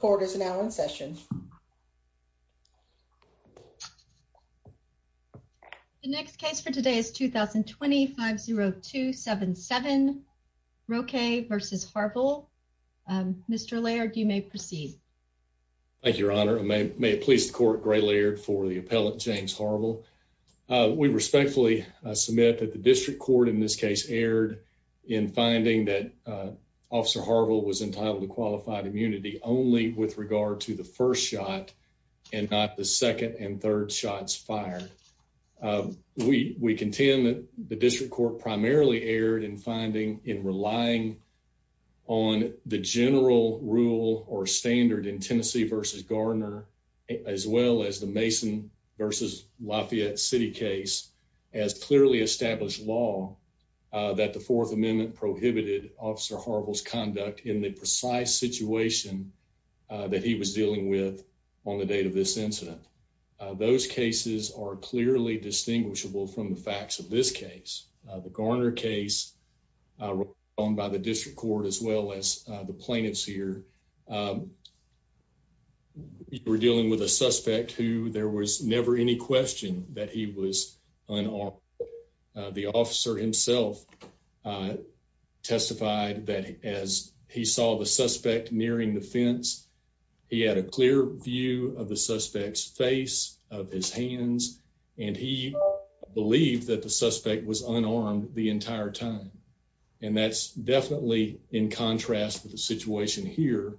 The next case for today is 2020-50277, Roque v. Harvel. Mr. Laird, you may proceed. Thank you, Your Honor. May it please the Court, Gray Laird, for the appellate James Harvel. We respectfully submit that the District Court in this case erred in finding that Officer Harvel was entitled to qualified immunity only with regard to the first shot and not the second and third shots fired. We contend that the District Court primarily erred in finding, in relying on the general rule or standard in Tennessee v. Gardner, as well as the Mason v. Lafayette City case, has clearly established law that the Fourth Amendment prohibited Officer Harvel's conduct in the precise situation that he was dealing with on the date of this incident. Those cases are clearly distinguishable from the facts of this case. The Gardner case, by the District Court as well as the plaintiffs here, were dealing with a suspect who there was never any question that he was unarmed. The officer himself testified that as he saw the suspect nearing the fence, he had a clear view of the suspect's face, of his hands, and he believed that the suspect was unarmed the entire time. And that's definitely in contrast with the situation here,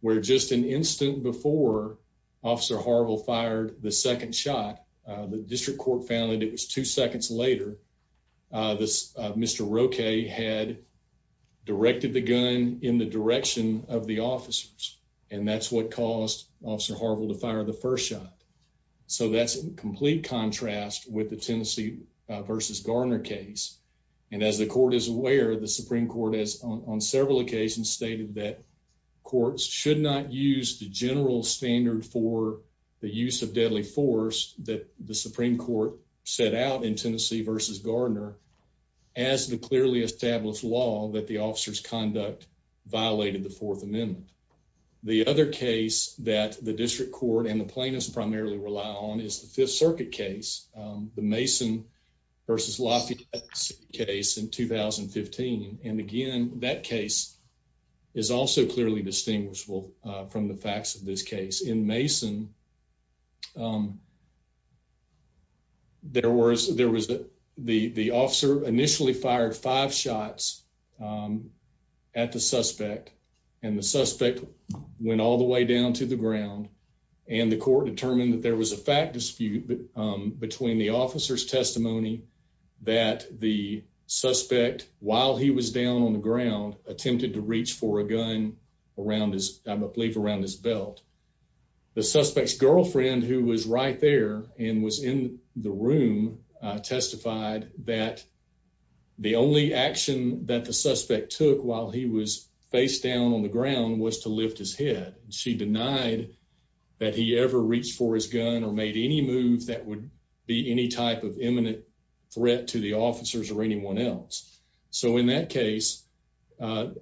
where just an instant before Officer Harvel fired the second shot, the District Court found that it was two seconds later. Mr. Roque had directed the gun in the direction of the officers, and that's what caused Officer Harvel to fire the first shot. So that's in complete contrast with the Tennessee v. Gardner case. And as the Court is aware, the Supreme Court has on several occasions stated that courts should not use the general standard for the use of deadly force that the Supreme Court set out in Tennessee v. Gardner as the clearly established law that the officers' conduct violated the Fourth Amendment. The other case that the District Court and the plaintiffs primarily rely on is the Fifth Circuit case, the Mason v. Lafayette case in 2015. And again, that case is also clearly distinguishable from the facts of this case. In this case in Mason, the officer initially fired five shots at the suspect, and the suspect went all the way down to the ground. And the court determined that there was a fact dispute between the officer's testimony that the suspect, while he was down on the ground, attempted to reach for a gun, I believe, around his belt. The suspect's girlfriend, who was right there and was in the room, testified that the only action that the suspect took while he was face down on the ground was to lift his head. She denied that he ever reached for his gun or made any move that would be any type of imminent threat to the officers or anyone else. So in that case, the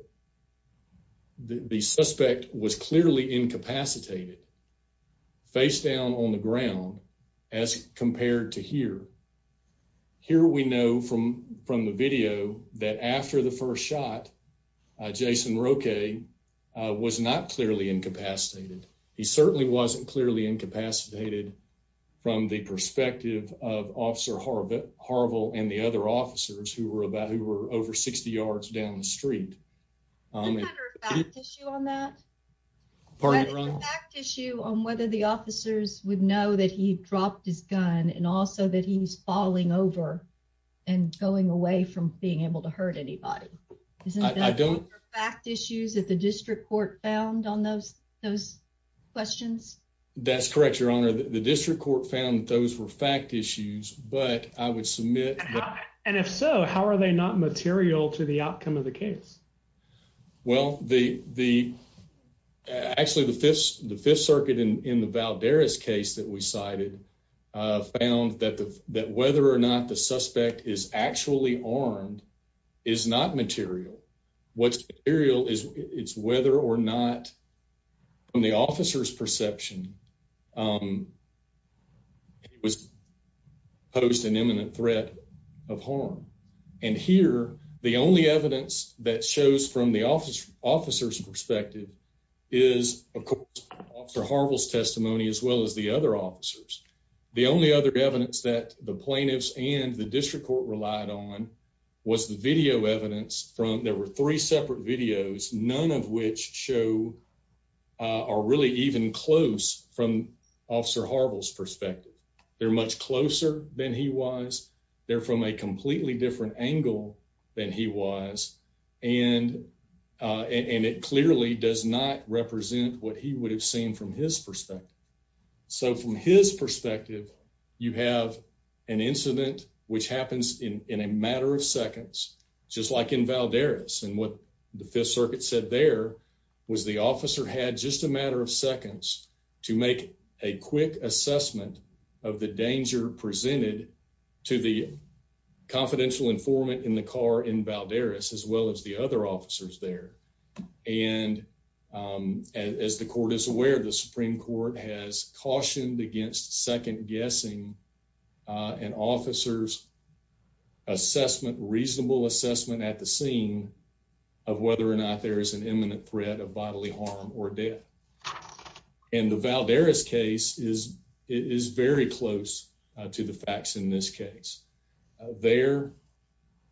suspect was clearly incapacitated, face down on the ground, as compared to here. Here we know from the video that after the first shot, Jason Roque was not clearly incapacitated. He certainly wasn't clearly incapacitated from the perspective of Officer Harville and the other officers who were over 60 yards down the street. Isn't there a fact issue on that? Pardon me, Your Honor? Isn't there a fact issue on whether the officers would know that he dropped his gun and also that he's falling over and going away from being able to hurt anybody? Isn't there a fact issue that the district court found on those questions? That's correct, Your Honor. The district court found that those were fact issues, but I would submit that... Well, actually, the Fifth Circuit in the Valderez case that we cited found that whether or not the suspect is actually armed is not material. What's material is whether or not, from the officer's perception, he was posed an imminent threat of harm. And here, the only evidence that shows from the officer's perspective is, of course, Officer Harville's testimony, as well as the other officers. The only other evidence that the plaintiffs and the district court relied on was the video evidence from... There were three separate videos, none of which show or really even close from Officer Harville's perspective. They're much closer than he was. They're from a completely different angle than he was, and it clearly does not represent what he would have seen from his perspective. So, from his perspective, you have an incident which happens in a matter of seconds, just like in Valderez. And what the Fifth Circuit said there was the officer had just a matter of seconds to make a quick assessment of the danger presented to the confidential informant in the car in Valderez, as well as the other officers there. And as the court is aware, the Supreme Court has cautioned against second-guessing an officer's assessment, reasonable assessment at the scene, of whether or not there is an imminent threat of bodily harm or death. And the Valderez case is very close to the facts in this case. There,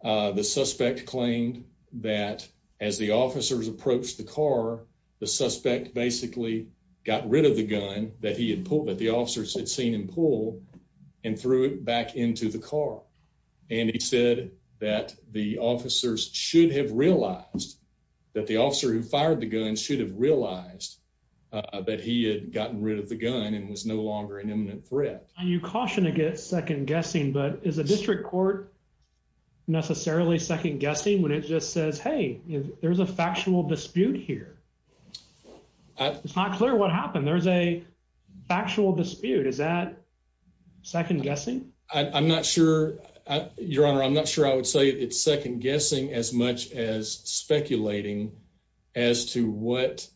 the suspect claimed that as the officers approached the car, the suspect basically got rid of the gun that he had pulled, that the officers had seen him pull, and threw it back into the car. And he said that the officers should have realized, that the officer who fired the gun should have realized that he had gotten rid of the gun and was no longer an imminent threat. And you caution against second-guessing, but is a district court necessarily second-guessing when it just says, hey, there's a factual dispute here? It's not clear what happened. There's a factual dispute. Is that second-guessing? I'm not sure, Your Honor, I'm not sure I would say it's second-guessing as much as speculating as to what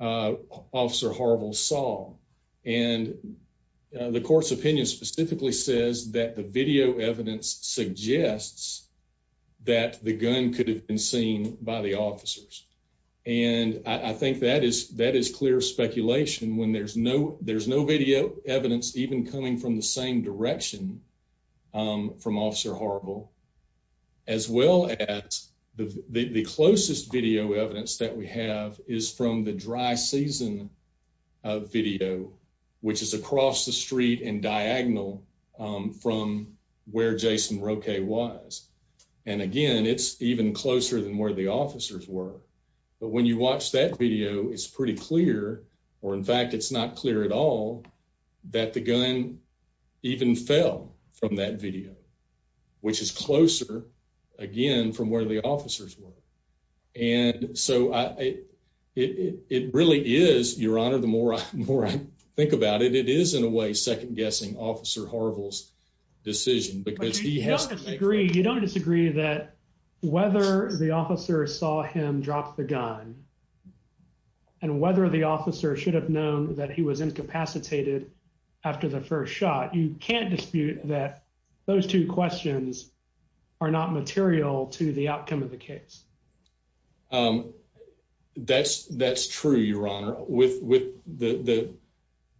Officer Harville saw. And the court's opinion specifically says that the video evidence suggests that the gun could have been seen by the officers. And I think that is clear speculation when there's no video evidence even coming from the same direction from Officer Harville, as well as the closest video evidence that we have is from the dry season video, which is across the street and diagonal from where Jason Roque was. And again, it's even closer than where the officers were. But when you watch that video, it's pretty clear, or in fact, it's not clear at all, that the gun even fell from that video, which is closer, again, from where the officers were. And so it really is, Your Honor, the more I think about it, it is in a way second-guessing Officer Harville's decision. But you don't disagree that whether the officer saw him drop the gun and whether the officer should have known that he was incapacitated after the first shot, you can't dispute that those two questions are not material to the outcome of the case. That's true, Your Honor. With the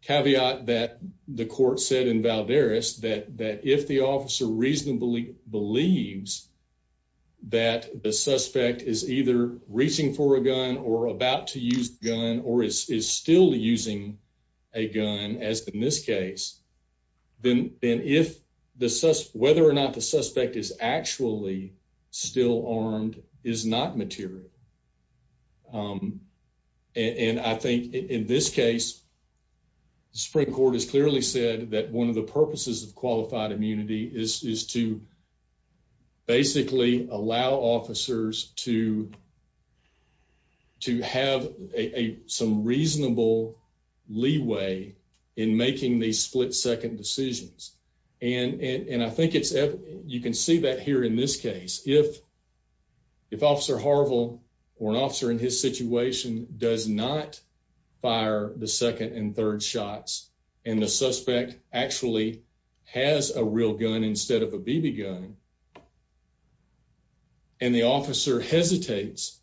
caveat that the court said in Valdez, that if the officer reasonably believes that the suspect is either reaching for a gun or about to use the gun or is still using a gun, as in this case, then whether or not the suspect is actually still armed is not material. And I think in this case, the Supreme Court has clearly said that one of the purposes of qualified immunity is to basically allow officers to have some reasonable leeway in making these split-second decisions. And I think you can see that here in this case. If Officer Harville or an officer in his situation does not fire the second and third shots and the suspect actually has a real gun instead of a BB gun, and the officer hesitates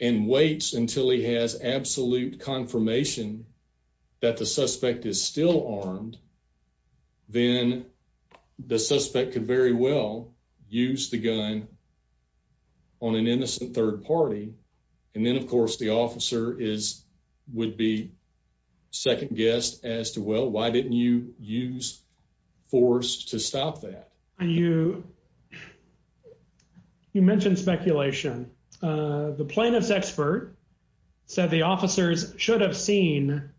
and waits until he has absolute confirmation that the suspect is still armed, then the suspect could very well use the gun on an innocent third party. And then, of course, the officer would be second-guessed as to, well, why didn't you use force to stop that? You mentioned speculation. The plaintiff's expert said the officers should have seen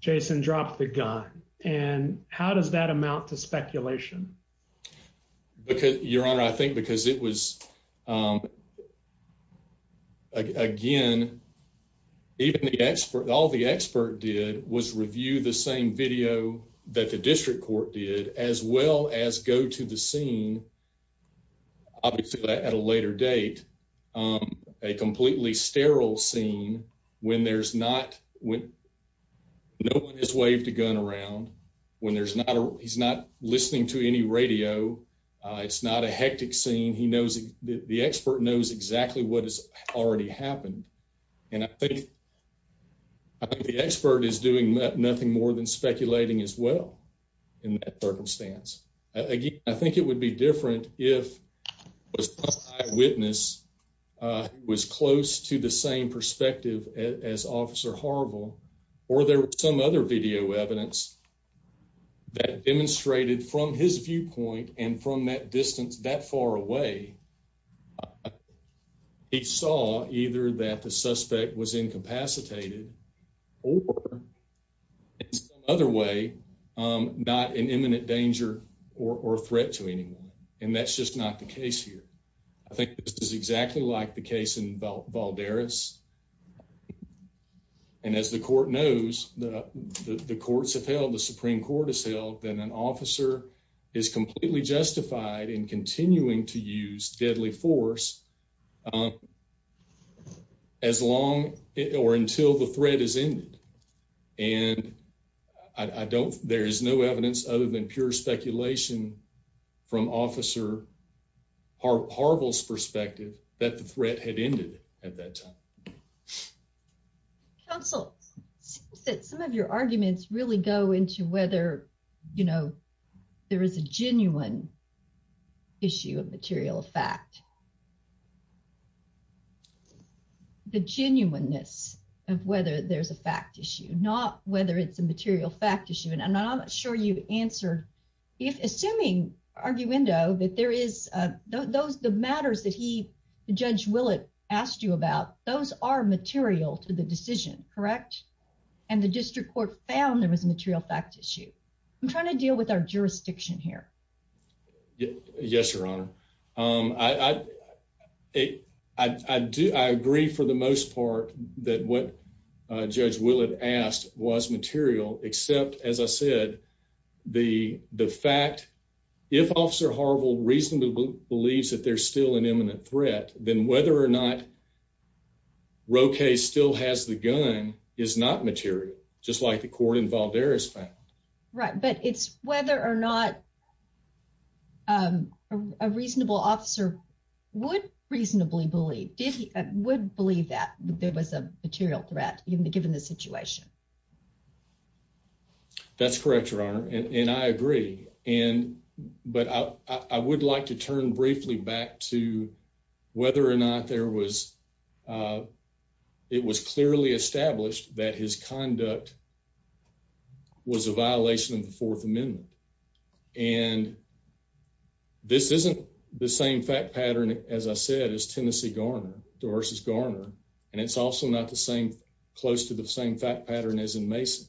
Jason drop the gun. And how does that amount to speculation? Your Honor, I think because it was, again, all the expert did was review the same video that the district court did as well as go to the scene, obviously at a later date, a completely sterile scene when no one has waved a gun around, when he's not listening to any radio, it's not a hectic scene. The expert knows exactly what has already happened. And I think the expert is doing nothing more than speculating as well in that circumstance. Again, I think it would be different if the eyewitness was close to the same perspective as Officer Harville, or there was some other video evidence that demonstrated from his viewpoint and from that distance that far away, he saw either that the suspect was incapacitated or, in some other way, not in imminent danger or threat to anyone. And that's just not the case here. I think this is exactly like the case in Valderas. And as the court knows, the courts have held, the Supreme Court has held, that an officer is completely justified in continuing to use deadly force as long or until the threat is ended. And there is no evidence other than pure speculation from Officer Harville's perspective that the threat had ended at that time. Counsel, it seems that some of your arguments really go into whether there is a genuine issue of material fact. The genuineness of whether there's a fact issue, not whether it's a material fact issue. And I'm not sure you answered. Assuming, arguendo, that there is, those, the matters that he, Judge Willett, asked you about, those are material to the decision, correct? And the district court found there was a material fact issue. I'm trying to deal with our jurisdiction here. Yes, Your Honor. I agree for the most part that what Judge Willett asked was material, except, as I said, the fact, if Officer Harville reasonably believes that there's still an imminent threat, then whether or not Roque still has the gun is not material, just like the court in Valderas found. Right, but it's whether or not a reasonable officer would reasonably believe, would believe that there was a material threat, given the situation. That's correct, Your Honor, and I agree. But I would like to turn briefly back to whether or not there was, it was clearly established that his conduct was a violation of the Fourth Amendment. And this isn't the same fact pattern, as I said, as Tennessee Garner, Dorsey's Garner, and it's also not the same, close to the same fact pattern as in Mason.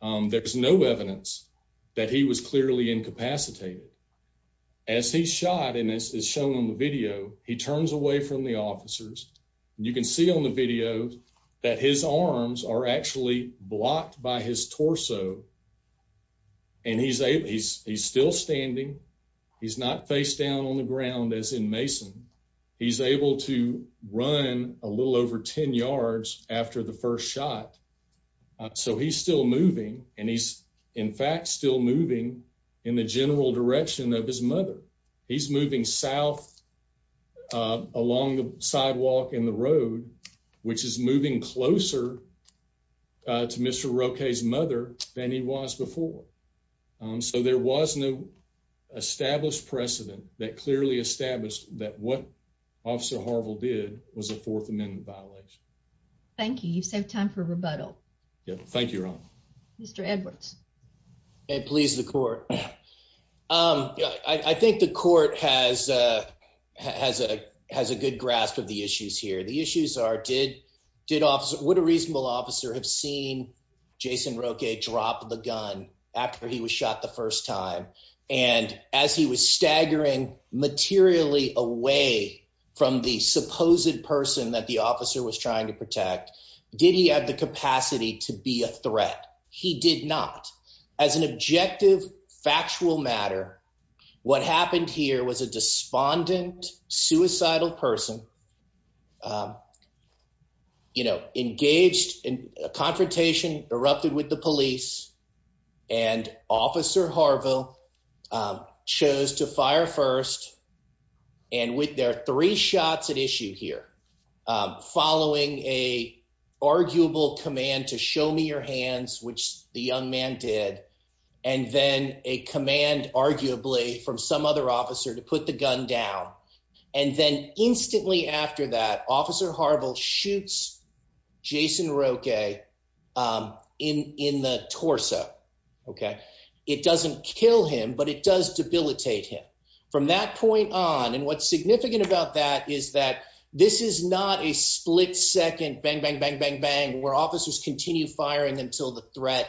There's no evidence that he was clearly incapacitated. As he's shot, and this is shown on the video, he turns away from the officers. You can see on the video that his arms are actually blocked by his torso, and he's still standing. He's not face down on the ground as in Mason. He's able to run a little over 10 yards after the first shot. So he's still moving, and he's in fact still moving in the general direction of his mother. He's moving south along the sidewalk and the road, which is moving closer to Mr. Roque's mother than he was before. So there was no established precedent that clearly established that what Officer Harville did was a Fourth Amendment violation. Thank you. You saved time for rebuttal. Thank you, Ron. Mr. Edwards. Please, the court. I think the court has a good grasp of the issues here. The issues are would a reasonable officer have seen Jason Roque drop the gun after he was shot the first time? And as he was staggering materially away from the supposed person that the officer was trying to protect, did he have the capacity to be a threat? He did not. As an objective, factual matter, what happened here was a despondent, suicidal person engaged in a confrontation, erupted with the police, and Officer Harville chose to fire first. And with their three shots at issue here, following an arguable command to show me your hands, which the young man did, and then a command, arguably, from some other officer to put the gun down. And then instantly after that, Officer Harville shoots Jason Roque in the torso. It doesn't kill him, but it does debilitate him. From that point on, and what's significant about that is that this is not a split-second bang, bang, bang, bang, bang, where officers continue firing until the threat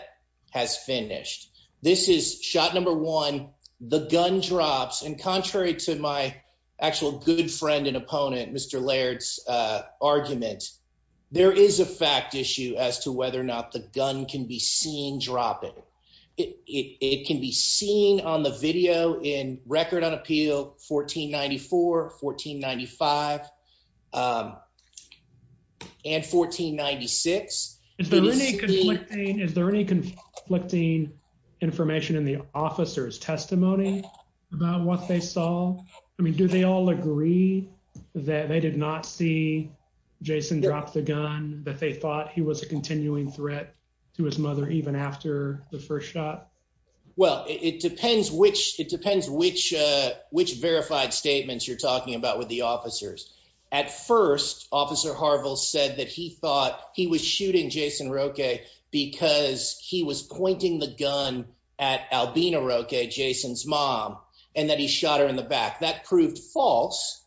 has finished. This is shot number one, the gun drops. And contrary to my actual good friend and opponent, Mr. Laird's, argument, there is a fact issue as to whether or not the gun can be seen dropping. It can be seen on the video in Record on Appeal 1494, 1495, and 1496. Is there any conflicting information in the officer's testimony about what they saw? I mean, do they all agree that they did not see Jason drop the gun, that they thought he was a continuing threat to his mother even after the first shot? Well, it depends which verified statements you're talking about with the officers. At first, Officer Harville said that he thought he was shooting Jason Roque because he was pointing the gun at Albina Roque, Jason's mom, and that he shot her in the back. That proved false.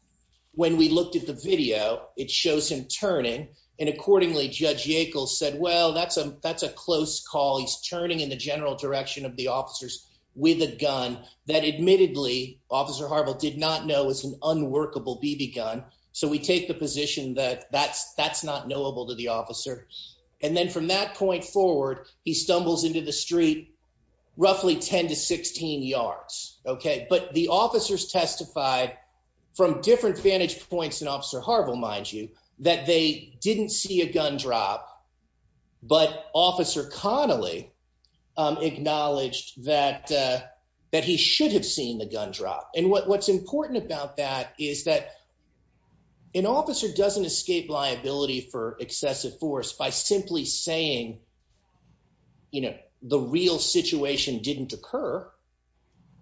When we looked at the video, it shows him turning. And accordingly, Judge Yackel said, well, that's a close call. He's turning in the general direction of the officers with a gun that, admittedly, Officer Harville did not know was an unworkable BB gun. So we take the position that that's not knowable to the officer. And then from that point forward, he stumbles into the street roughly 10 to 16 yards. But the officers testified from different vantage points than Officer Harville, mind you, that they didn't see a gun drop. But Officer Connolly acknowledged that he should have seen the gun drop. And what's important about that is that an officer doesn't escape liability for excessive force by simply saying, you know, the real situation didn't occur.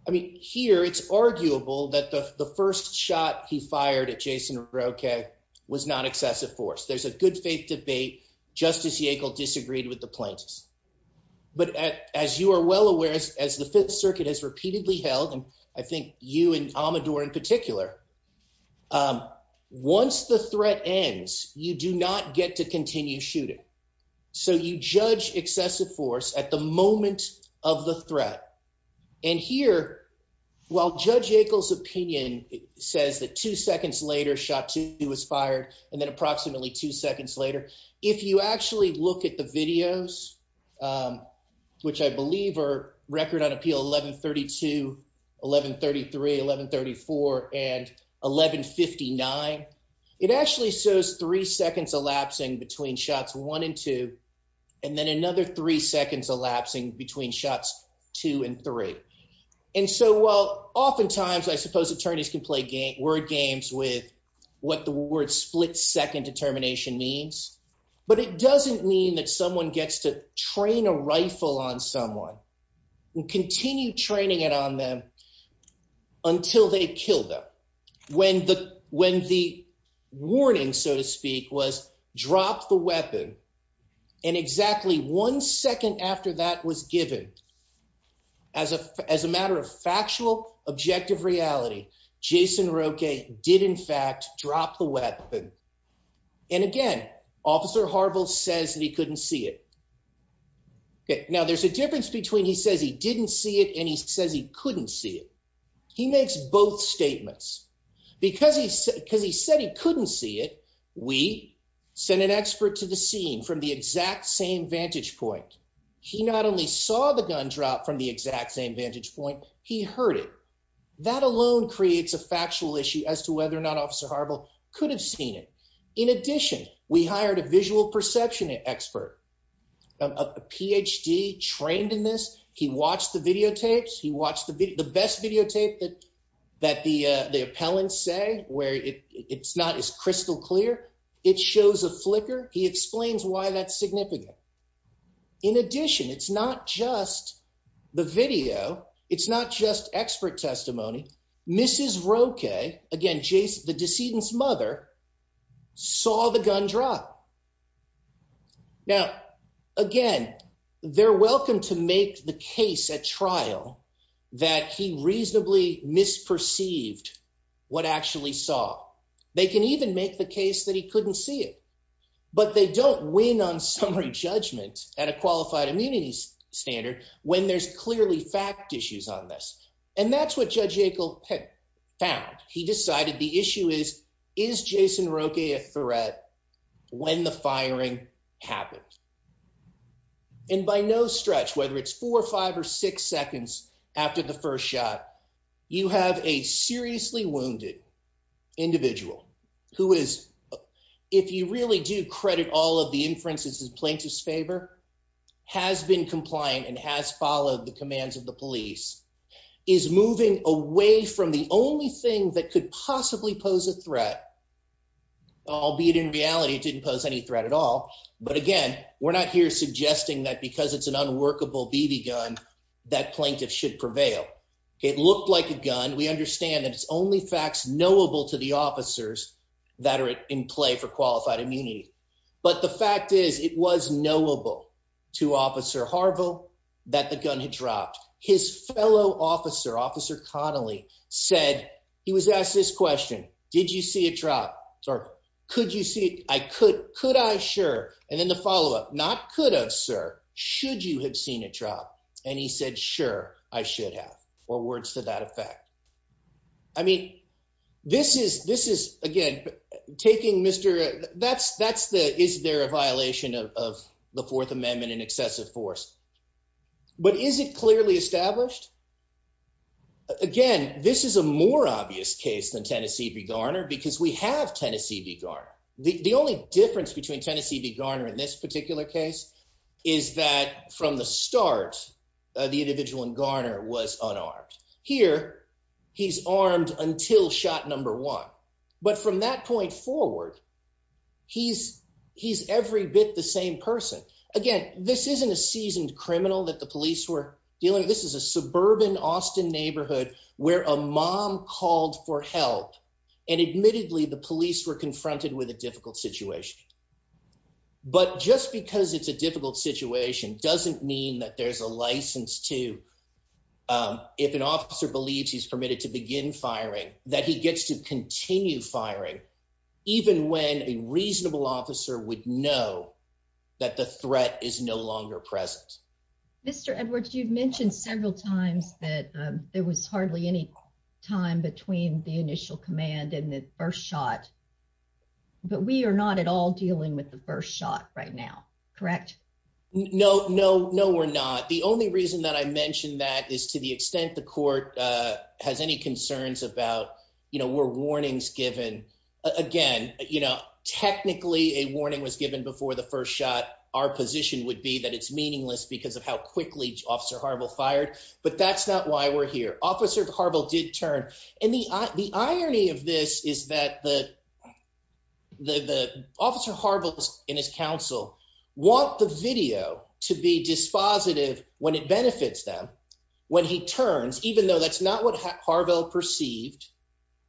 I mean, here it's arguable that the first shot he fired at Jason Roque was not excessive force. There's a good faith debate. Justice Yackel disagreed with the plaintiffs. But as you are well aware, as the Fifth Circuit has repeatedly held, and I think you and Amador in particular, once the threat ends, you do not get to continue shooting. So you judge excessive force at the moment of the threat. And here, while Judge Yackel's opinion says that two seconds later, shot two was fired, and then approximately two seconds later, if you actually look at the videos, which I believe are record on appeal 1132, 1133, 1134, and 1159, it actually shows three seconds elapsing between shots one and two, and then another three seconds elapsing between shots two and three. And so while oftentimes I suppose attorneys can play word games with what the word split second determination means, but it doesn't mean that someone gets to train a rifle on someone and continue training it on them until they kill them. When the warning, so to speak, was drop the weapon, and exactly one second after that was given, as a matter of factual objective reality, Jason Roque did in fact drop the weapon. And again, Officer Harville says that he couldn't see it. Now, there's a difference between he says he didn't see it and he says he couldn't see it. He makes both statements. Because he said he couldn't see it, we sent an expert to the scene from the exact same vantage point. He not only saw the gun drop from the exact same vantage point, he heard it. That alone creates a factual issue as to whether or not Officer Harville could have seen it. In addition, we hired a visual perception expert, a PhD trained in this. He watched the videotapes. He watched the best videotape that the appellants say, where it's not as crystal clear. It shows a flicker. He explains why that's significant. In addition, it's not just the video. It's not just expert testimony. Mrs. Roque, again, the decedent's mother, saw the gun drop. Now, again, they're welcome to make the case at trial that he reasonably misperceived what actually saw. They can even make the case that he couldn't see it. But they don't win on summary judgment at a qualified immunity standard when there's clearly fact issues on this. And that's what Judge Yackel found. He decided the issue is, is Jason Roque a threat when the firing happened? And by no stretch, whether it's four or five or six seconds after the first shot, you have a seriously wounded individual who is, if you really do credit all of the inferences in plaintiff's favor, has been compliant and has followed the commands of the police, is moving away from the only thing that could possibly pose a threat, albeit in reality, didn't pose any threat at all. But again, we're not here suggesting that because it's an unworkable BB gun, that plaintiff should prevail. It looked like a gun. We understand that it's only facts knowable to the officers that are in play for qualified immunity. But the fact is, it was knowable to Officer Harville that the gun had dropped. His fellow officer, Officer Connolly, said he was asked this question. Did you see a drop? Could you see? I could. Could I? Sure. And then the follow up. Not could have, sir. Should you have seen a drop? And he said, sure, I should have. Or words to that effect. I mean, this is this is, again, taking Mr. That's that's the is there a violation of the Fourth Amendment and excessive force? But is it clearly established? Again, this is a more obvious case than Tennessee v. Garner because we have Tennessee v. Garner. The only difference between Tennessee v. Garner in this particular case is that from the start, the individual in Garner was unarmed. Here he's armed until shot number one. But from that point forward, he's he's every bit the same person. Again, this isn't a seasoned criminal that the police were dealing. This is a suburban Austin neighborhood where a mom called for help. And admittedly, the police were confronted with a difficult situation. But just because it's a difficult situation doesn't mean that there's a license to if an officer believes he's permitted to begin firing, that he gets to continue firing even when a reasonable officer would know that the threat is no longer present. Mr. Edwards, you've mentioned several times that there was hardly any time between the initial command and the first shot. But we are not at all dealing with the first shot right now. Correct? No, no, no, we're not. The only reason that I mentioned that is to the extent the court has any concerns about, you know, we're warnings given again. You know, technically a warning was given before the first shot. Our position would be that it's meaningless because of how quickly Officer Harville fired. But that's not why we're here. Officer Harville did turn. And the irony of this is that the Officer Harville and his counsel want the video to be dispositive when it benefits them. When he turns, even though that's not what Harville perceived.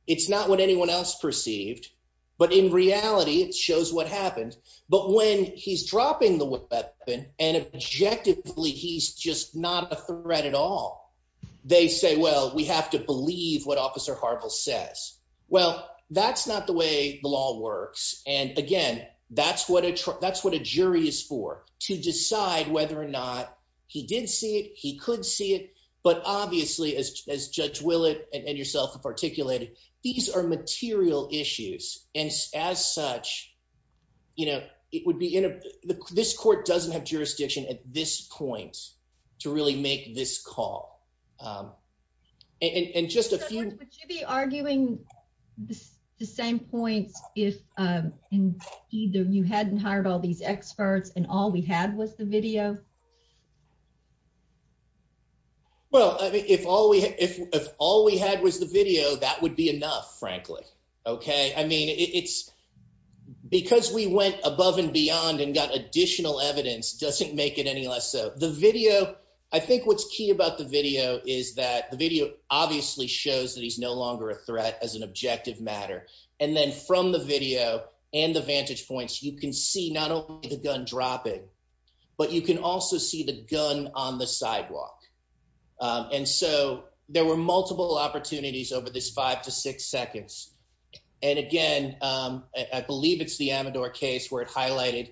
It's not what anyone else perceived. But in reality, it shows what happened. But when he's dropping the weapon and objectively, he's just not a threat at all. They say, well, we have to believe what Officer Harville says. Well, that's not the way the law works. And again, that's what that's what a jury is for to decide whether or not he did see it. He could see it. But obviously, as Judge Willett and yourself have articulated, these are material issues. And as such, you know, it would be in this court doesn't have jurisdiction at this point to really make this call. And just to be arguing the same points, if either you hadn't hired all these experts and all we had was the video. Well, if all we if all we had was the video, that would be enough, frankly. OK, I mean, it's because we went above and beyond and got additional evidence doesn't make it any less so. The video, I think what's key about the video is that the video obviously shows that he's no longer a threat as an objective matter. And then from the video and the vantage points, you can see not only the gun dropping, but you can also see the gun on the sidewalk. And so there were multiple opportunities over this five to six seconds. And again, I believe it's the Amador case where it highlighted,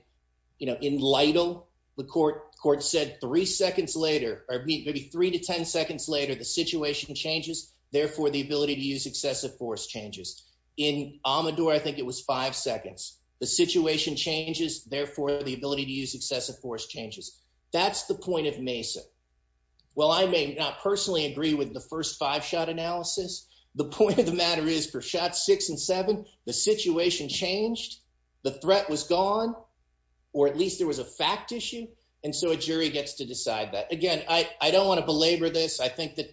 you know, in Lytle, the court court said three seconds later or maybe three to 10 seconds later, the situation changes. Therefore, the ability to use excessive force changes in Amador. I think it was five seconds. The situation changes. Therefore, the ability to use excessive force changes. That's the point of Mesa. Well, I may not personally agree with the first five shot analysis. The point of the matter is for shot six and seven, the situation changed. The threat was gone or at least there was a fact issue. And so a jury gets to decide that. Again, I don't want to belabor this. I think that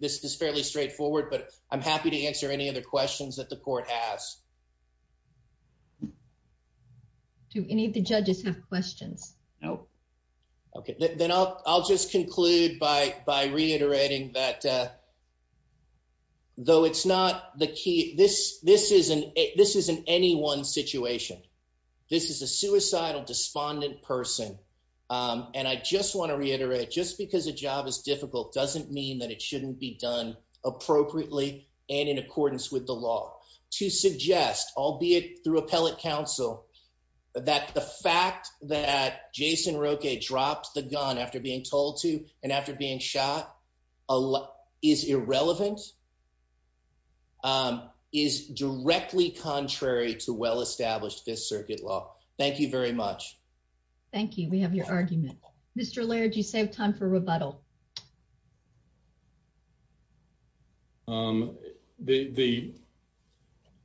this is fairly straightforward, but I'm happy to answer any other questions that the court has. Do any of the judges have questions? No. OK, then I'll I'll just conclude by by reiterating that. Though it's not the key, this this isn't this isn't any one situation. This is a suicidal, despondent person. And I just want to reiterate just because a job is difficult doesn't mean that it shouldn't be done appropriately. And in accordance with the law to suggest, albeit through appellate counsel, that the fact that Jason Roque dropped the gun after being told to and after being shot is irrelevant. Is directly contrary to well established this circuit law. Thank you very much. Thank you. We have your argument. Mr. Laird, you save time for rebuttal. The.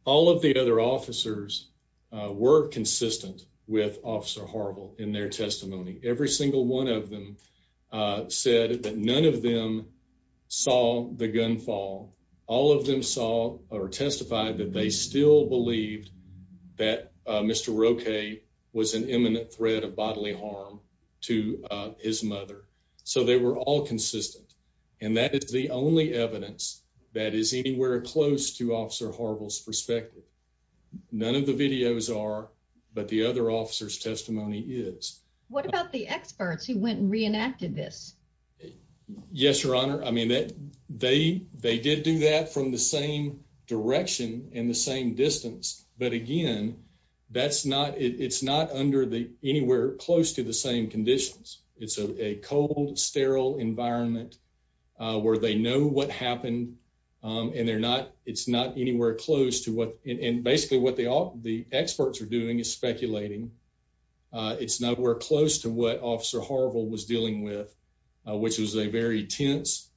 All of the other officers were consistent with Officer Horrible in their testimony. Every single one of them said that none of them saw the gunfall. All of them saw or testified that they still believed that Mr. Roque was an imminent threat of bodily harm to his mother. So they were all consistent. And that is the only evidence that is anywhere close to Officer Horrible's perspective. None of the videos are, but the other officers testimony is. What about the experts who went and reenacted this? Yes, your honor. I mean, that they they did do that from the same direction in the same distance. But again, that's not it's not under the anywhere close to the same conditions. It's a cold, sterile environment where they know what happened and they're not. It's not anywhere close to what and basically what they all the experts are doing is speculating. It's not where close to what Officer Horrible was dealing with, which was a very tense,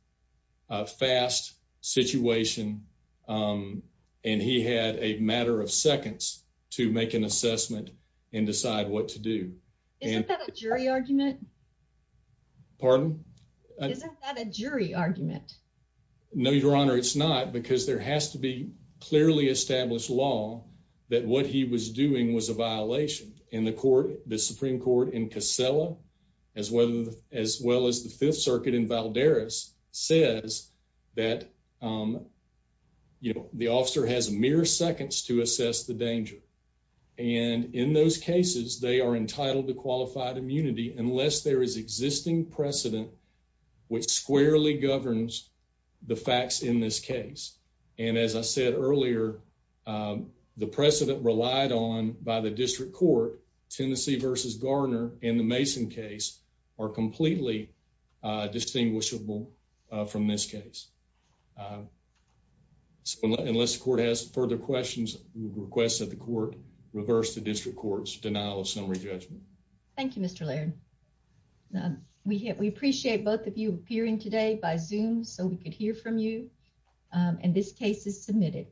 fast situation. And he had a matter of seconds to make an assessment and decide what to do. Is that a jury argument? Pardon? Is that a jury argument? No, your honor. It's not because there has to be clearly established law that what he was doing was a violation in the court. The Supreme Court in Casella, as well as well as the Fifth Circuit in Valdez, says that, you know, the officer has mere seconds to assess the danger. And in those cases, they are entitled to qualified immunity unless there is existing precedent which squarely governs the facts in this case. And as I said earlier, the precedent relied on by the district court, Tennessee versus Garner and the Mason case are completely distinguishable from this case. So unless the court has further questions, request that the court reverse the district court's denial of summary judgment. Thank you, Mr. Laird. We appreciate both of you appearing today by Zoom so we could hear from you. And this case is submitted.